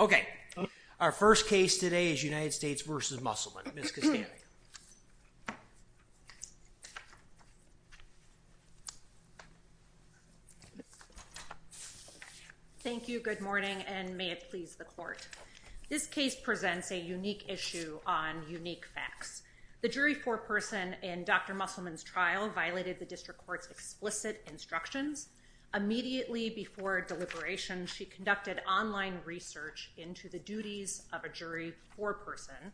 Okay, our first case today is United States v. Musselman. Ms. Kostanek. Thank you, good morning, and may it please the court. This case presents a unique issue on unique facts. The jury foreperson in Dr. Musselman's trial violated the district court's explicit instructions. Immediately before deliberation, she conducted online research into the duties of a jury foreperson.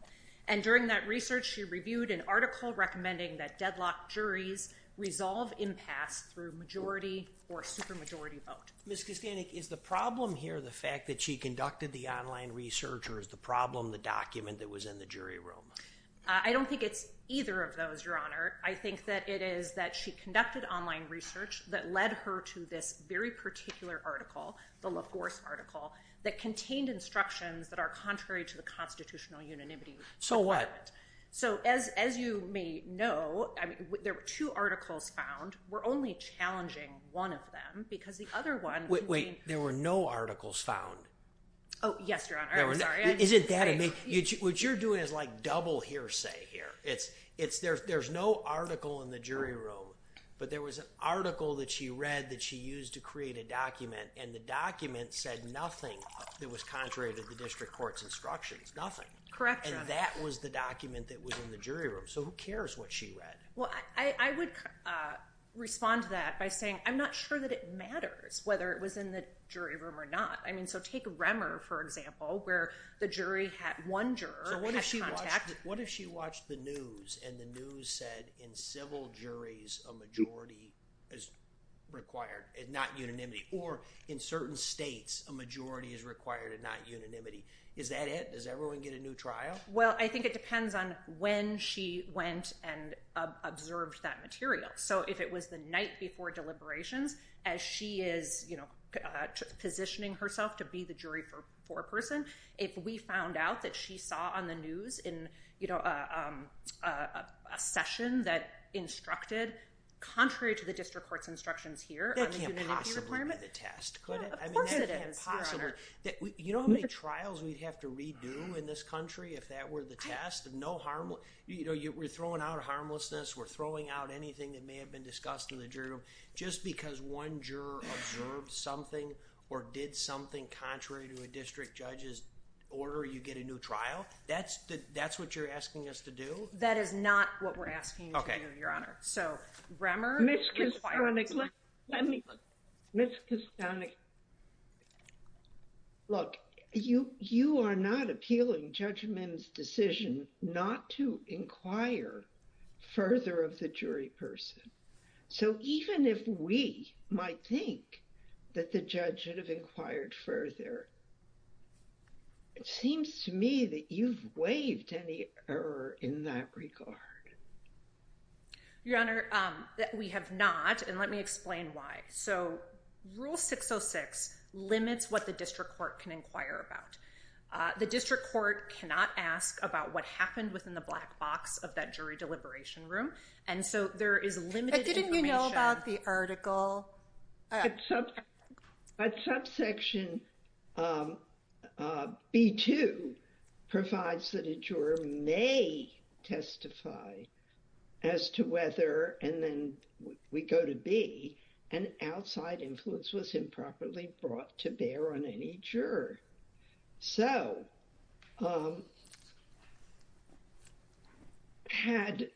And during that research, she reviewed an article recommending that deadlocked juries resolve impasse through majority or supermajority vote. Ms. Kostanek, is the problem here the fact that she conducted the online research or is the problem the document that was in the jury room? I don't think it's either of those, Your Honor. I think that it is that she conducted online research that led her to this very particular article, the LaForce article, that contained instructions that are contrary to the constitutional unanimity. So what? So, as you may know, there were two articles found. We're only challenging one of them because the other one- Wait, wait, there were no articles found. Oh, yes, Your Honor. I'm sorry. Isn't that amazing? What you're doing is like double hearsay here. There's no article in the jury room, but there was an article that she read that she used to create a document and the document said nothing that was contrary to the district court's instructions, nothing. Correct, Your Honor. And that was the document that was in the jury room. So who cares what she read? Well, I would respond to that by saying I'm not sure that it matters whether it was in the jury room or not. I mean, so take Remmer, for example, where the jury had one juror had contact- Well, I think it depends on when she went and observed that material. So if it was the night before deliberations, as she is positioning herself to be the jury foreperson, if we found out that she saw on the news in a session that instructed contrary to the district court's instructions here- That can't possibly be the test, could it? Yeah, of course it is, Your Honor. I mean, that can't possibly. You know how many trials we'd have to redo in this country if that were the test? We're throwing out harmlessness, we're throwing out anything that may have been discussed in the jury room just because one juror observed something or did something contrary to a district judge's order, you get a new trial? That's what you're asking us to do? That is not what we're asking you to do, Your Honor. So, Remmer, if you'd like to respond to that. Ms. Kastanik, let me, Ms. Kastanik, look, you are not appealing Judge Mims' decision not to inquire further of the jury person. So, even if we might think that the judge should have inquired further, it seems to me that you've waived any error in that regard. Your Honor, we have not, and let me explain why. So, Rule 606 limits what the district court can inquire about. The district court cannot ask about what happened within the black box of that jury deliberation room. And so, there is limited information. But didn't you know about the article? But subsection B2 provides that a juror may testify as to whether, and then we go to B, an outside influence was improperly brought to bear on any juror. So, had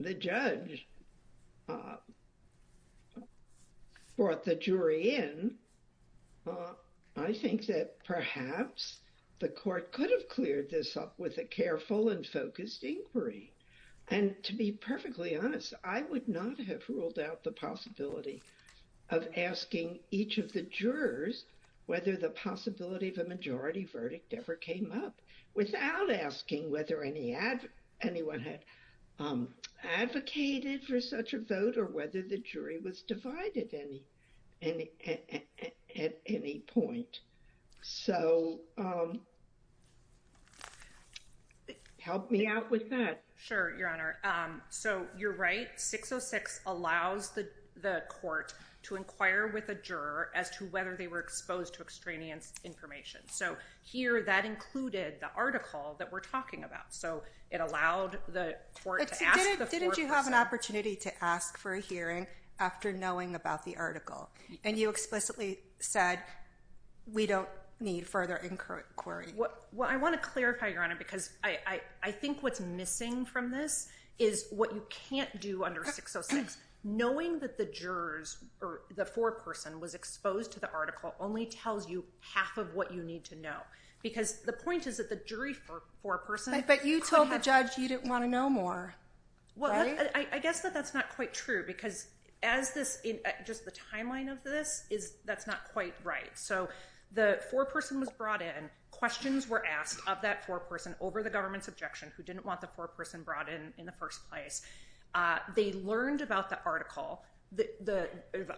the judge brought the jury in, I think that perhaps the court could have cleared this up with a careful and focused inquiry. And to be perfectly honest, I would not have ruled out the possibility of asking each of the jurors whether the possibility of a majority verdict ever came up without asking whether anyone had advocated for such a vote or whether the jury was divided at any point. So, help me out with that. Sure, Your Honor. So, you're right. 606 allows the court to inquire with a juror as to whether they were exposed to extraneous information. So, here, that included the article that we're talking about. So, it allowed the court to ask the court... And you explicitly said, we don't need further inquiry. Well, I want to clarify, Your Honor, because I think what's missing from this is what you can't do under 606. Knowing that the jurors or the foreperson was exposed to the article only tells you half of what you need to know. Because the point is that the jury foreperson... But you told the judge you didn't want to know more. Well, I guess that that's not quite true because as this... Just the timeline of this, that's not quite right. So, the foreperson was brought in, questions were asked of that foreperson over the government's objection, who didn't want the foreperson brought in in the first place. They learned about the article, the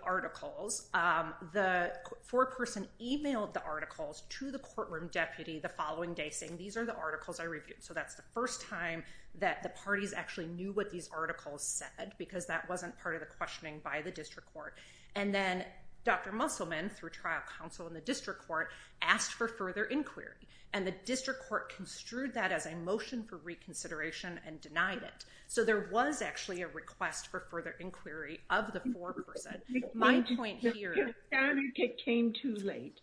articles. The foreperson emailed the articles to the courtroom deputy the following day saying, these are the articles I reviewed. So, that's the first time that the parties actually knew what these articles said, because that wasn't part of the questioning by the district court. And then Dr. Musselman, through trial counsel in the district court, asked for further inquiry. And the district court construed that as a motion for reconsideration and denied it. So, there was actually a request for further inquiry of the foreperson. My point here... Your Honor, it came too late.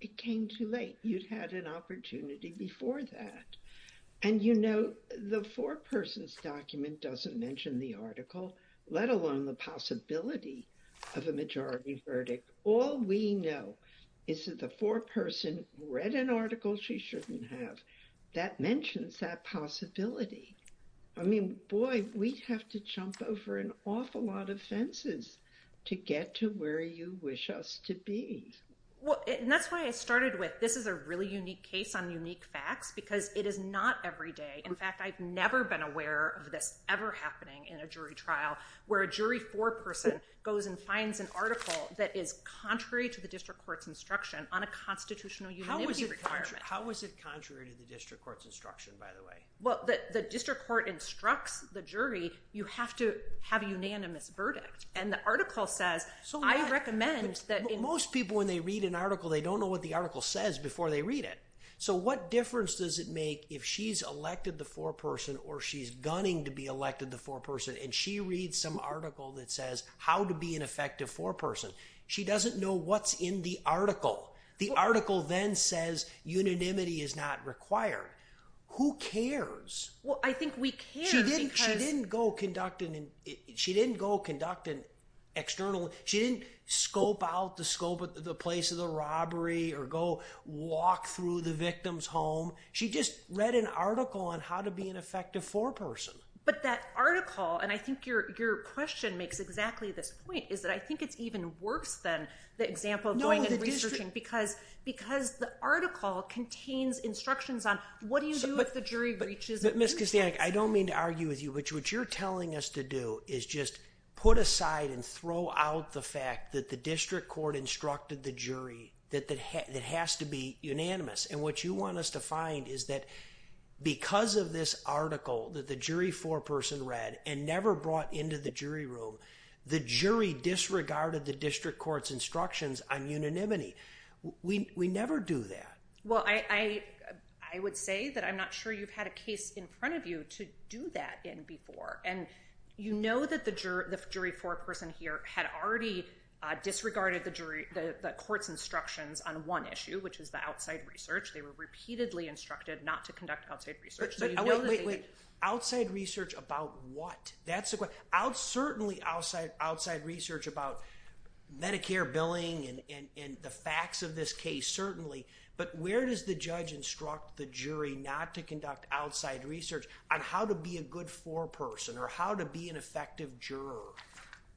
It came too late. You'd had an opportunity before that. And the foreperson's document doesn't mention the article, let alone the possibility of a majority verdict. All we know is that the foreperson read an article she shouldn't have. That mentions that possibility. I mean, boy, we'd have to jump over an awful lot of fences to get to where you wish us to be. Well, and that's why I started with, this is a really unique case on unique facts, because it is not every day. In fact, I've never been aware of this ever happening in a jury trial, where a jury foreperson goes and finds an article that is contrary to the district court's instruction on a constitutional unanimity requirement. How is it contrary to the district court's instruction, by the way? Well, the district court instructs the jury, you have to have a unanimous verdict. And the article says, I recommend that... Most people, when they read an article, they don't know what the article says before they read it. So what difference does it make if she's elected the foreperson, or she's gunning to be elected the foreperson, and she reads some article that says, how to be an effective foreperson? She doesn't know what's in the article. The article then says, unanimity is not required. Who cares? Well, I think we care. She didn't go conduct an external... She didn't scope out the scope of the place of the robbery, or go walk through the victim's home. She just read an article on how to be an effective foreperson. But that article, and I think your question makes exactly this point, is that I think it's even worse than the example of going and researching, because the article contains instructions on, what do you do if the jury breaches... But Ms. Kastanik, I don't mean to argue with you, but what you're telling us to do is just put aside and throw out the fact that the district court instructed the jury that it has to be unanimous. And what you want us to find is that, because of this article that the jury foreperson read, and never brought into the jury room, the jury disregarded the district court's instructions on unanimity. We never do that. Well, I would say that I'm not sure you've had a case in front of you to do that in before. And you know that the jury foreperson here had already disregarded the court's instructions on one issue, which is the outside research. They were repeatedly instructed not to conduct outside research. But wait, wait, wait. Outside research about what? That's the question. Certainly outside research about Medicare billing and the facts of this case, certainly. But where does the judge instruct the jury not to conduct outside research on how to be a good foreperson, or how to be an effective juror?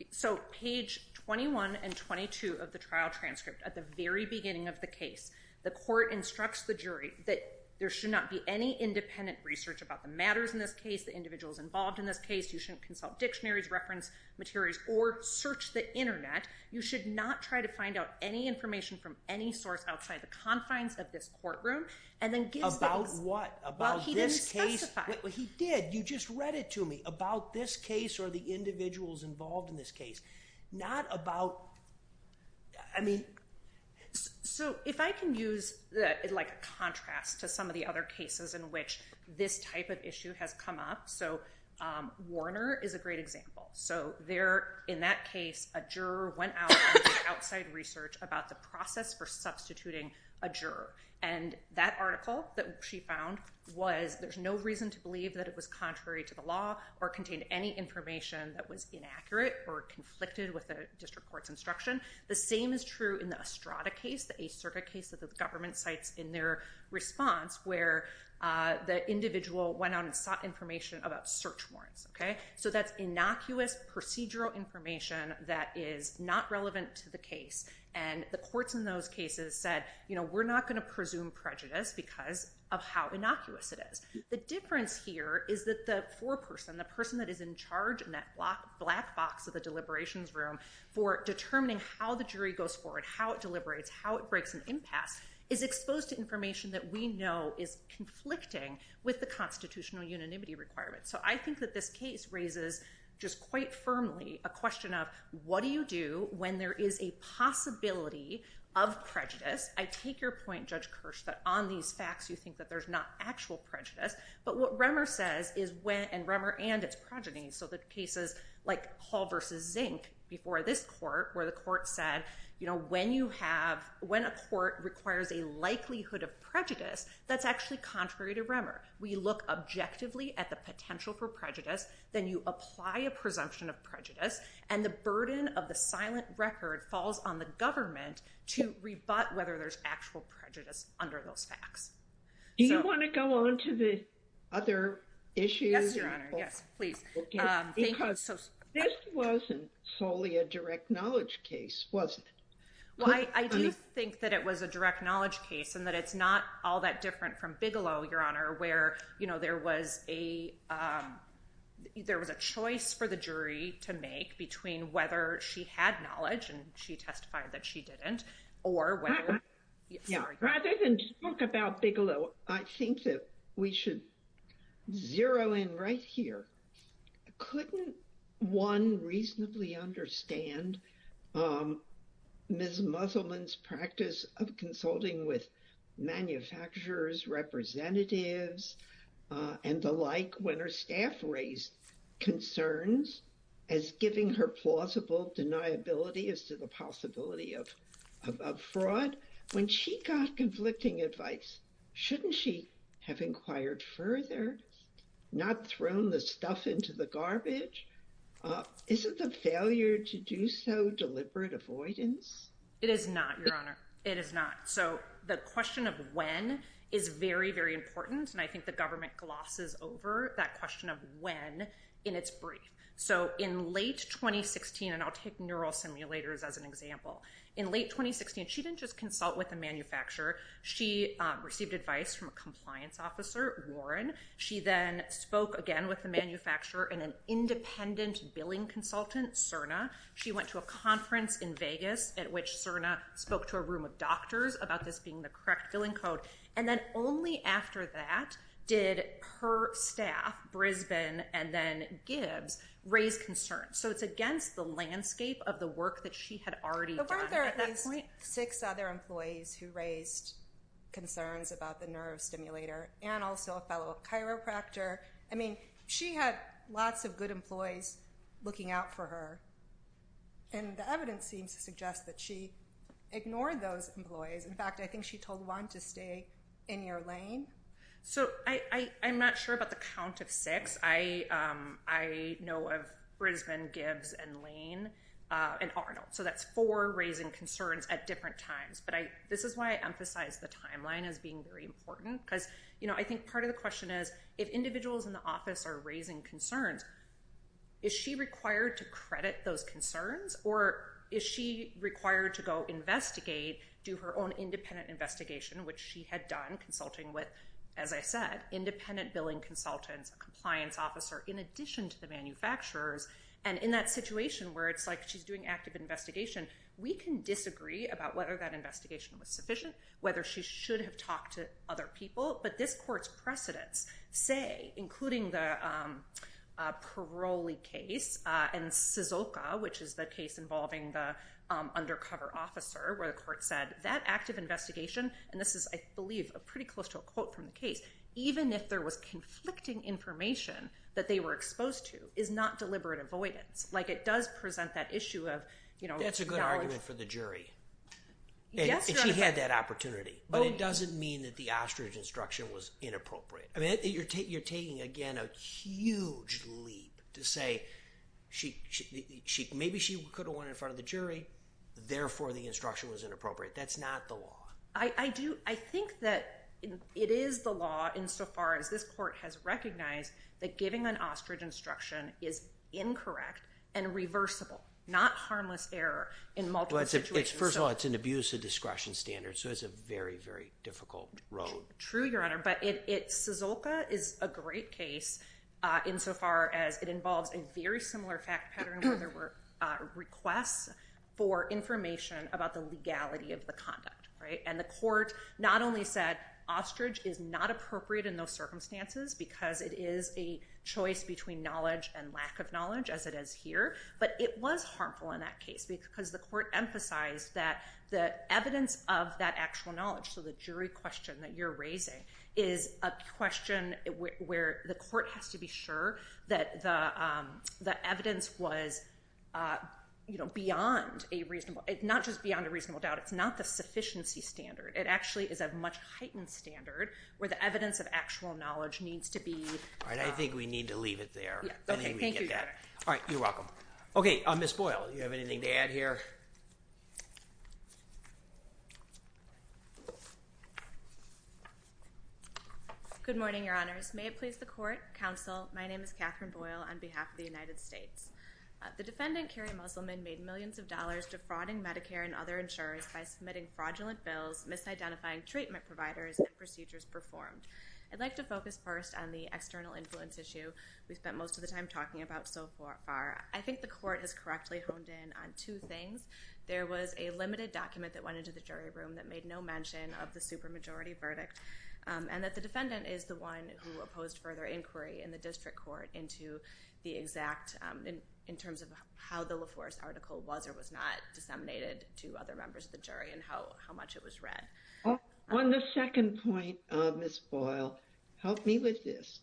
So page 21 and 22 of the trial transcript, at the very beginning of the case, the court instructs the jury that there should not be any independent research about the matters in this case, the individuals involved in this case. You shouldn't consult dictionaries, reference materials, or search the internet. You should not try to find out any information from any source outside the confines of this courtroom. And then give- About what? About this case? Well, he didn't specify. He did. You just read it to me. About this case or the individuals involved in this case. Not about, I mean- So if I can use like a contrast to some of the other cases in which this type of issue has come up. So Warner is a great example. So there, in that case, a juror went out and did outside research about the process for substituting a juror. And that article that she found was there's no reason to believe that it was contrary to the law or contained any information that was inaccurate or conflicted with the district court's instruction. The same is true in the Estrada case, the Ace Circuit case that the government cites in their response, where the individual went out and sought information about search warrants. So that's innocuous, procedural information that is not relevant to the case. And the courts in those cases said, we're not going to presume prejudice because of how innocuous it is. The difference here is that the foreperson, the person that is in charge in that black box of the deliberations room, for determining how the jury goes forward, how it deliberates, how it breaks an impasse, is exposed to information that we know is conflicting with the constitutional unanimity requirements. So I think that this case raises just quite firmly a question of, what do you do when there is a possibility of prejudice? I take your point, Judge Kirsch, that on these facts, you think that there's not actual prejudice. But what Remmer says is when, and Remmer and so the cases like Hall v. Zink before this court, where the court said, when a court requires a likelihood of prejudice, that's actually contrary to Remmer. We look objectively at the potential for prejudice. Then you apply a presumption of prejudice. And the burden of the silent record falls on the government to rebut whether there's actual prejudice under those facts. Do you want to go on to the other issues? Yes, please. Because this wasn't solely a direct knowledge case, was it? Well, I do think that it was a direct knowledge case and that it's not all that different from Bigelow, Your Honor, where, you know, there was a choice for the jury to make between whether she had knowledge and she testified that she didn't, or whether... Rather than talk about Bigelow... I think that we should zero in right here. Couldn't one reasonably understand Ms. Musselman's practice of consulting with manufacturers, representatives, and the like when her staff raised concerns as giving her plausible deniability as to the when she got conflicting advice, shouldn't she have inquired further, not thrown the stuff into the garbage? Isn't the failure to do so deliberate avoidance? It is not, Your Honor. It is not. So the question of when is very, very important. And I think the government glosses over that question of when in its brief. So in late 2016, and I'll take simulators as an example. In late 2016, she didn't just consult with a manufacturer. She received advice from a compliance officer, Warren. She then spoke again with the manufacturer and an independent billing consultant, Cerna. She went to a conference in Vegas at which Cerna spoke to a room of doctors about this being the correct billing code. And then only after that did her staff, Brisbane and then Gibbs, raise concerns. So it's against the landscape of the work that she had already done. But weren't there at least six other employees who raised concerns about the nerve stimulator and also a fellow chiropractor? I mean, she had lots of good employees looking out for her. And the evidence seems to suggest that she ignored those employees. In fact, I think she told Warren to stay in your lane. So I'm not sure about the count of six. I know of Brisbane, Gibbs, and Lane, and Arnold. So that's four raising concerns at different times. But this is why I emphasize the timeline as being very important. Because I think part of the question is, if individuals in the office are raising concerns, is she required to credit those concerns? Or is she required to go investigate, do her own independent investigation, which she had done consulting with, as I said, independent billing consultants, a compliance officer, in addition to the manufacturers? And in that situation where it's like she's doing active investigation, we can disagree about whether that investigation was sufficient, whether she should have talked to other people. But this court's precedents say, including the Paroli case and Suzoka, which is the case involving the undercover officer, where the court said that active investigation, and this is, I believe, pretty close to a quote from the case, even if there was conflicting information that they were exposed to, is not deliberate avoidance. Like it does present that issue of, you know... That's a good argument for the jury. Yes, Your Honor. And she had that opportunity. But it doesn't mean that the ostrich instruction was inappropriate. I mean, you're taking, again, a huge leap to say she... Maybe she could have went in front of the jury. Therefore, the instruction was inappropriate. That's not the law. I do. I think that it is the law insofar as this court has recognized that giving an ostrich instruction is incorrect and reversible, not harmless error in multiple situations. First of all, it's an abuse of discretion standards. So it's a very, very difficult road. True, Your Honor. But Suzoka is a great case insofar as it involves a very similar fact pattern where there were requests for information about the legality of the conduct. And the court not only said ostrich is not appropriate in those circumstances because it is a choice between knowledge and lack of knowledge, as it is here, but it was harmful in that case because the court emphasized that the evidence of that actual knowledge, so the jury question that you're raising, is a question where the court has to be sure that the evidence was beyond a reasonable... Not just beyond a reasonable doubt. It's not the sufficiency standard. It actually is a much heightened standard where the evidence of actual knowledge needs to be... All right. I think we need to leave it there. Yeah. Okay. Thank you, Your Honor. I think we get that. All right. You're welcome. Okay. Ms. Boyle, do you have anything to add here? Good morning, Your Honors. May it please the court, counsel, my name is Catherine Boyle on behalf of the United States. The defendant, Kerry Musselman, made millions of dollars defrauding Medicare and other insurers by submitting fraudulent bills, misidentifying treatment providers and procedures performed. I'd like to focus first on the external influence issue we spent most of the time talking about so far. I think the court has correctly honed in on two things. There was a limited document that went into the jury room that made no mention of the supermajority verdict and that the defendant is the one who opposed further inquiry in the district court into the exact... In terms of how the LaForce article was or was not disseminated to other members of the jury and how much it was read. On the second point, Ms. Boyle, help me with this.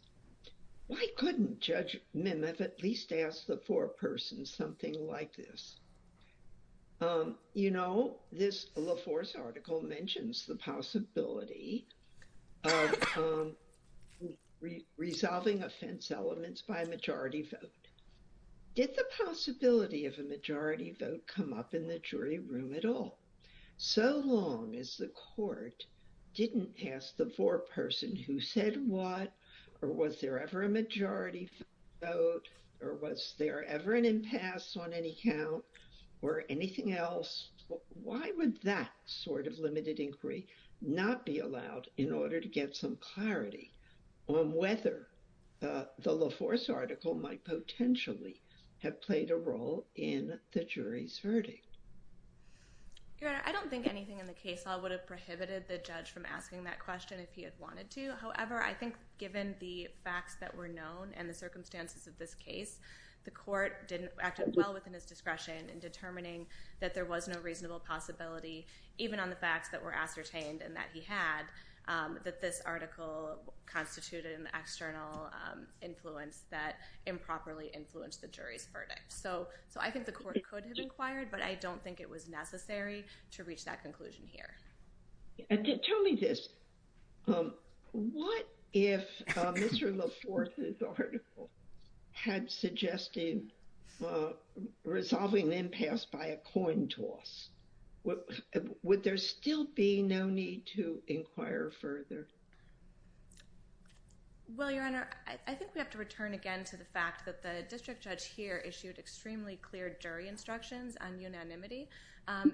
Why couldn't Judge Mimoff at least ask the foreperson something like this? You know, this LaForce article mentions the possibility of resolving offense elements by a majority vote. Did the possibility of a majority vote come up in the jury room at all? So long as the court didn't ask the foreperson who said what, or was there ever a majority vote, or was there ever an impasse on any count or anything else? Why would that sort of limited inquiry not be allowed in order to get some clarity on whether the LaForce article might potentially have played a role in the jury's verdict? Your Honor, I don't think anything in the case law would have prohibited the judge from asking that question if he had wanted to. However, I think given the facts that were known and the circumstances of this case, the court acted well within his discretion in determining that there was no reasonable possibility, even on the facts that were ascertained and that he had, that this article constituted an external influence that improperly influenced the jury's verdict. So I think the court could have inquired, but I don't think it was necessary to reach that conclusion here. Tell me this, what if Mr. LaForce's article had suggested resolving impasse by a coin toss? Would there still be no need to inquire further? Well, Your Honor, I think we have to return again to the fact that the district judge here issued extremely clear jury instructions on unanimity.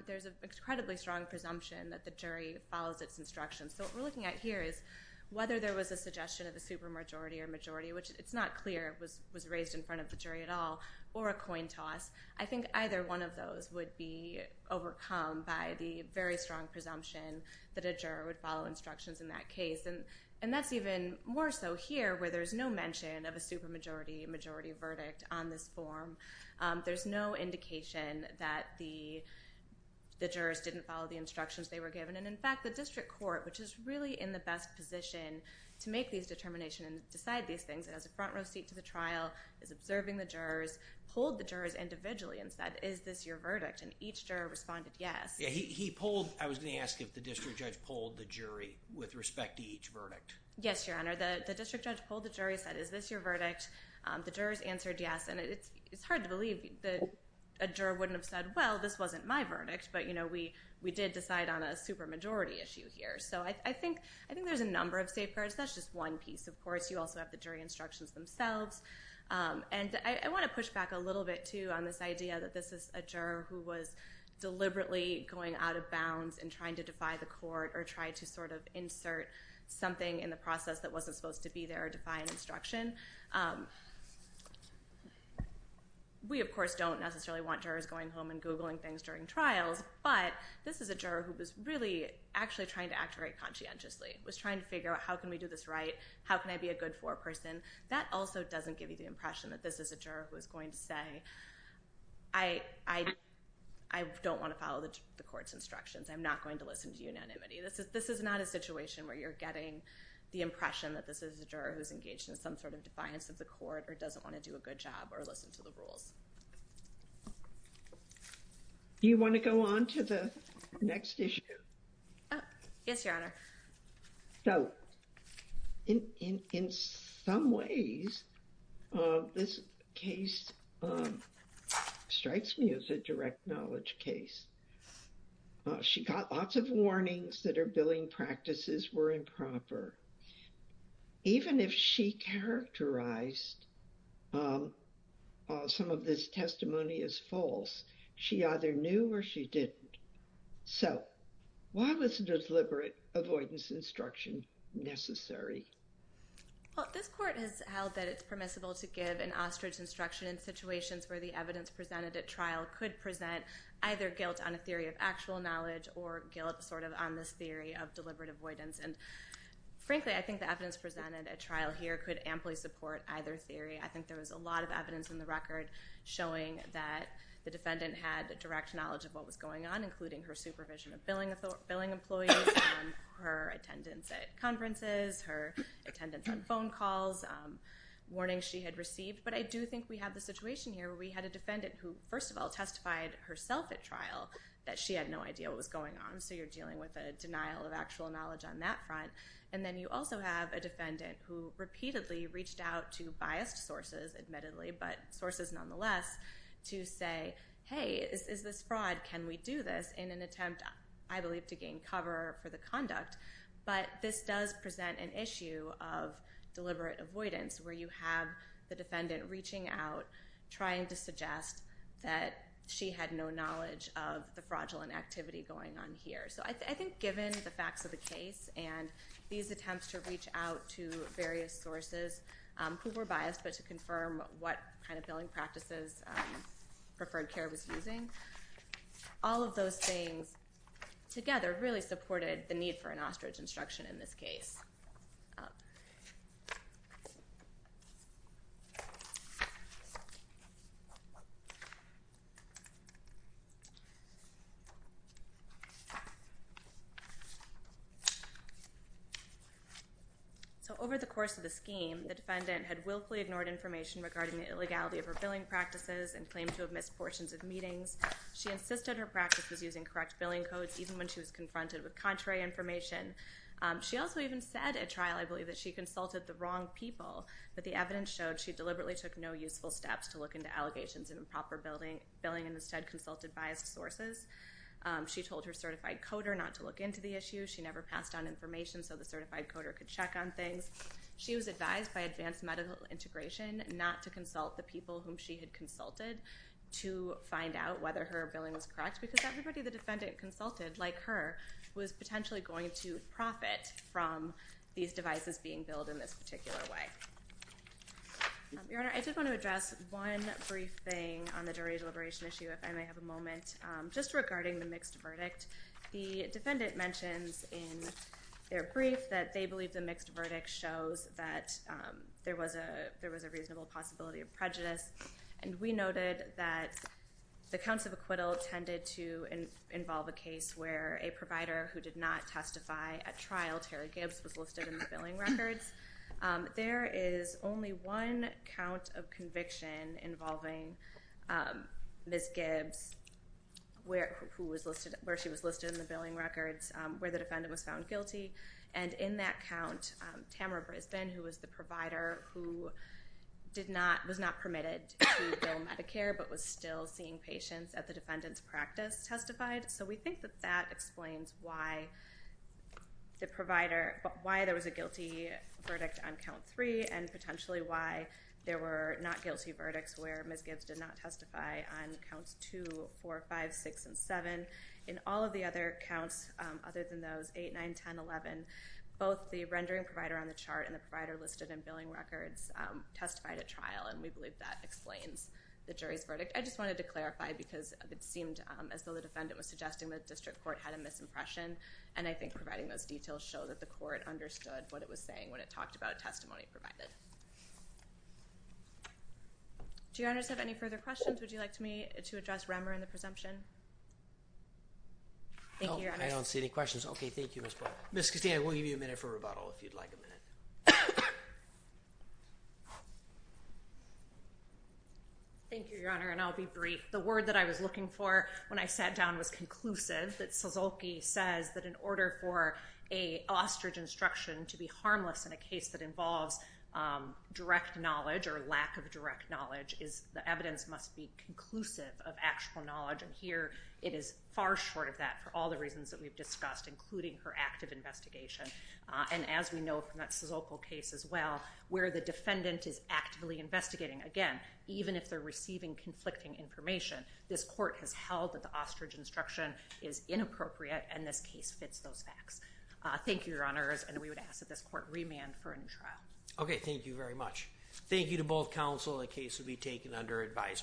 There's an incredibly strong presumption that the jury follows its instructions. So what we're looking at here is whether there was a suggestion of a supermajority or majority, which it's not clear was raised in front of the jury at all, or a coin toss, I think either one of those would be overcome by the very strong presumption that a juror would follow instructions in that case. And that's even more so here where there's no mention of a supermajority, majority verdict on this form. There's no indication that the jurors didn't follow the instructions they were given. And in fact, the district court, which is really in the best position to make these determinations and decide these things, has a front row seat to the trial, is observing the jurors, pulled the jurors individually and said, is this your verdict? And each juror responded yes. Yeah, he pulled, I was going to ask if the district judge pulled the jury with respect to each verdict. Yes, Your Honor, the district judge pulled the jury, said, is this your verdict? The jurors answered yes. And it's hard to believe that a juror wouldn't have said, well, this wasn't my verdict, but we did decide on a supermajority issue here. So I think there's a number of safeguards. That's just one piece. Of course, you also have the jury instructions themselves. And I want to push back a little bit too on this idea that this is a juror who was deliberately going out of bounds and trying to try to sort of insert something in the process that wasn't supposed to be there or defy an instruction. We, of course, don't necessarily want jurors going home and Googling things during trials. But this is a juror who was really actually trying to act very conscientiously, was trying to figure out, how can we do this right? How can I be a good foreperson? That also doesn't give you the impression that this is a juror who is going to say, I don't want to follow the court's instructions. I'm not going to listen to unanimity. This is not a situation where you're getting the impression that this is a juror who's engaged in some sort of defiance of the court or doesn't want to do a good job or listen to the rules. Do you want to go on to the next issue? Yes, Your Honor. So in some ways, this case strikes me as a direct knowledge case. She got lots of warnings that her billing practices were improper. Even if she characterized some of this testimony as false, she either knew or she didn't. So why was a deliberate avoidance instruction necessary? Well, this court has that it's permissible to give an ostrich instruction in situations where the evidence presented at trial could present either guilt on a theory of actual knowledge or guilt on this theory of deliberate avoidance. And frankly, I think the evidence presented at trial here could amply support either theory. I think there was a lot of evidence in the record showing that the defendant had direct knowledge of what was going on, including her supervision of billing employees, her attendance at conferences, her attendance on phone calls, warnings she had received. But I do think we have the situation here where we had a defendant who, first of all, testified herself at trial that she had no idea what was going on. So you're dealing with a denial of actual knowledge on that front. And then you also have a defendant who repeatedly reached out to biased sources, admittedly, but sources nonetheless, to say, hey, is this fraud? Can we do this in an attempt, I believe, to gain cover for the conduct? But this does present an issue of deliberate avoidance, where you have the defendant reaching out, trying to suggest that she had no knowledge of the fraudulent activity going on here. So I think given the facts of the case and these attempts to reach out to various sources who were biased, but to confirm what kind of things together really supported the need for an ostrich instruction in this case. So over the course of the scheme, the defendant had willfully ignored information regarding the illegality of her billing practices and claimed to have missed portions of meetings. She insisted her practice was using correct billing codes, even when she was confronted with contrary information. She also even said at trial, I believe, that she consulted the wrong people, but the evidence showed she deliberately took no useful steps to look into allegations of improper billing and instead consulted biased sources. She told her certified coder not to look into the issue. She never passed on information so the certified coder could check on things. She was advised by advanced medical integration not to consult the people whom she had consulted to find out whether her billing was correct, because everybody the defendant consulted, like her, was potentially going to profit from these devices being billed in this particular way. Your Honor, I did want to address one brief thing on the jury deliberation issue, if I may have a moment, just regarding the mixed verdict. The defendant mentions in their brief that they believe the mixed verdict shows that there was a reasonable possibility of prejudice, and we noted that the counts of acquittal tended to involve a case where a provider who did not testify at trial, Terry Gibbs, was listed in the billing records. There is only one count of conviction involving Ms. Gibbs, where she was listed in the billing records, where the defendant was found guilty, and in that count, Tamara Brisbane, who was the provider who was not permitted to bill Medicare but was still seeing patients at the defendant's practice testified. So we think that that explains why there was a guilty verdict on count three and potentially why there were not guilty verdicts where Ms. Gibbs did not testify on counts two, four, five, six, and seven. In all of the other counts, other than those eight, nine, ten, eleven, both the rendering provider on the chart and the provider listed in billing records testified at trial, and we believe that explains the jury's verdict. I just wanted to clarify because it seemed as though the defendant was suggesting the district court had a misimpression, and I think providing those details show that the court understood what it was saying when it talked about testimony provided. Do your honors have any further questions? Would you like me to address Remmer and the presumption? I don't see any questions. Okay, thank you. Ms. Castano, we'll give you a minute for rebuttal, if you'd like a minute. Thank you, your honor, and I'll be brief. The word that I was looking for when I sat down was conclusive, that Suzuki says that in order for a ostrich instruction to be harmless in a case that involves direct knowledge or lack of direct knowledge, and here it is far short of that for all the reasons that we've discussed, including her active investigation, and as we know from that Sozopol case as well, where the defendant is actively investigating, again, even if they're receiving conflicting information, this court has held that the ostrich instruction is inappropriate and this case fits those facts. Thank you, your honors, and we would ask that this court remand for a new trial. Okay, thank you very much. Thank you to both counsel. The case will be taken under advisement.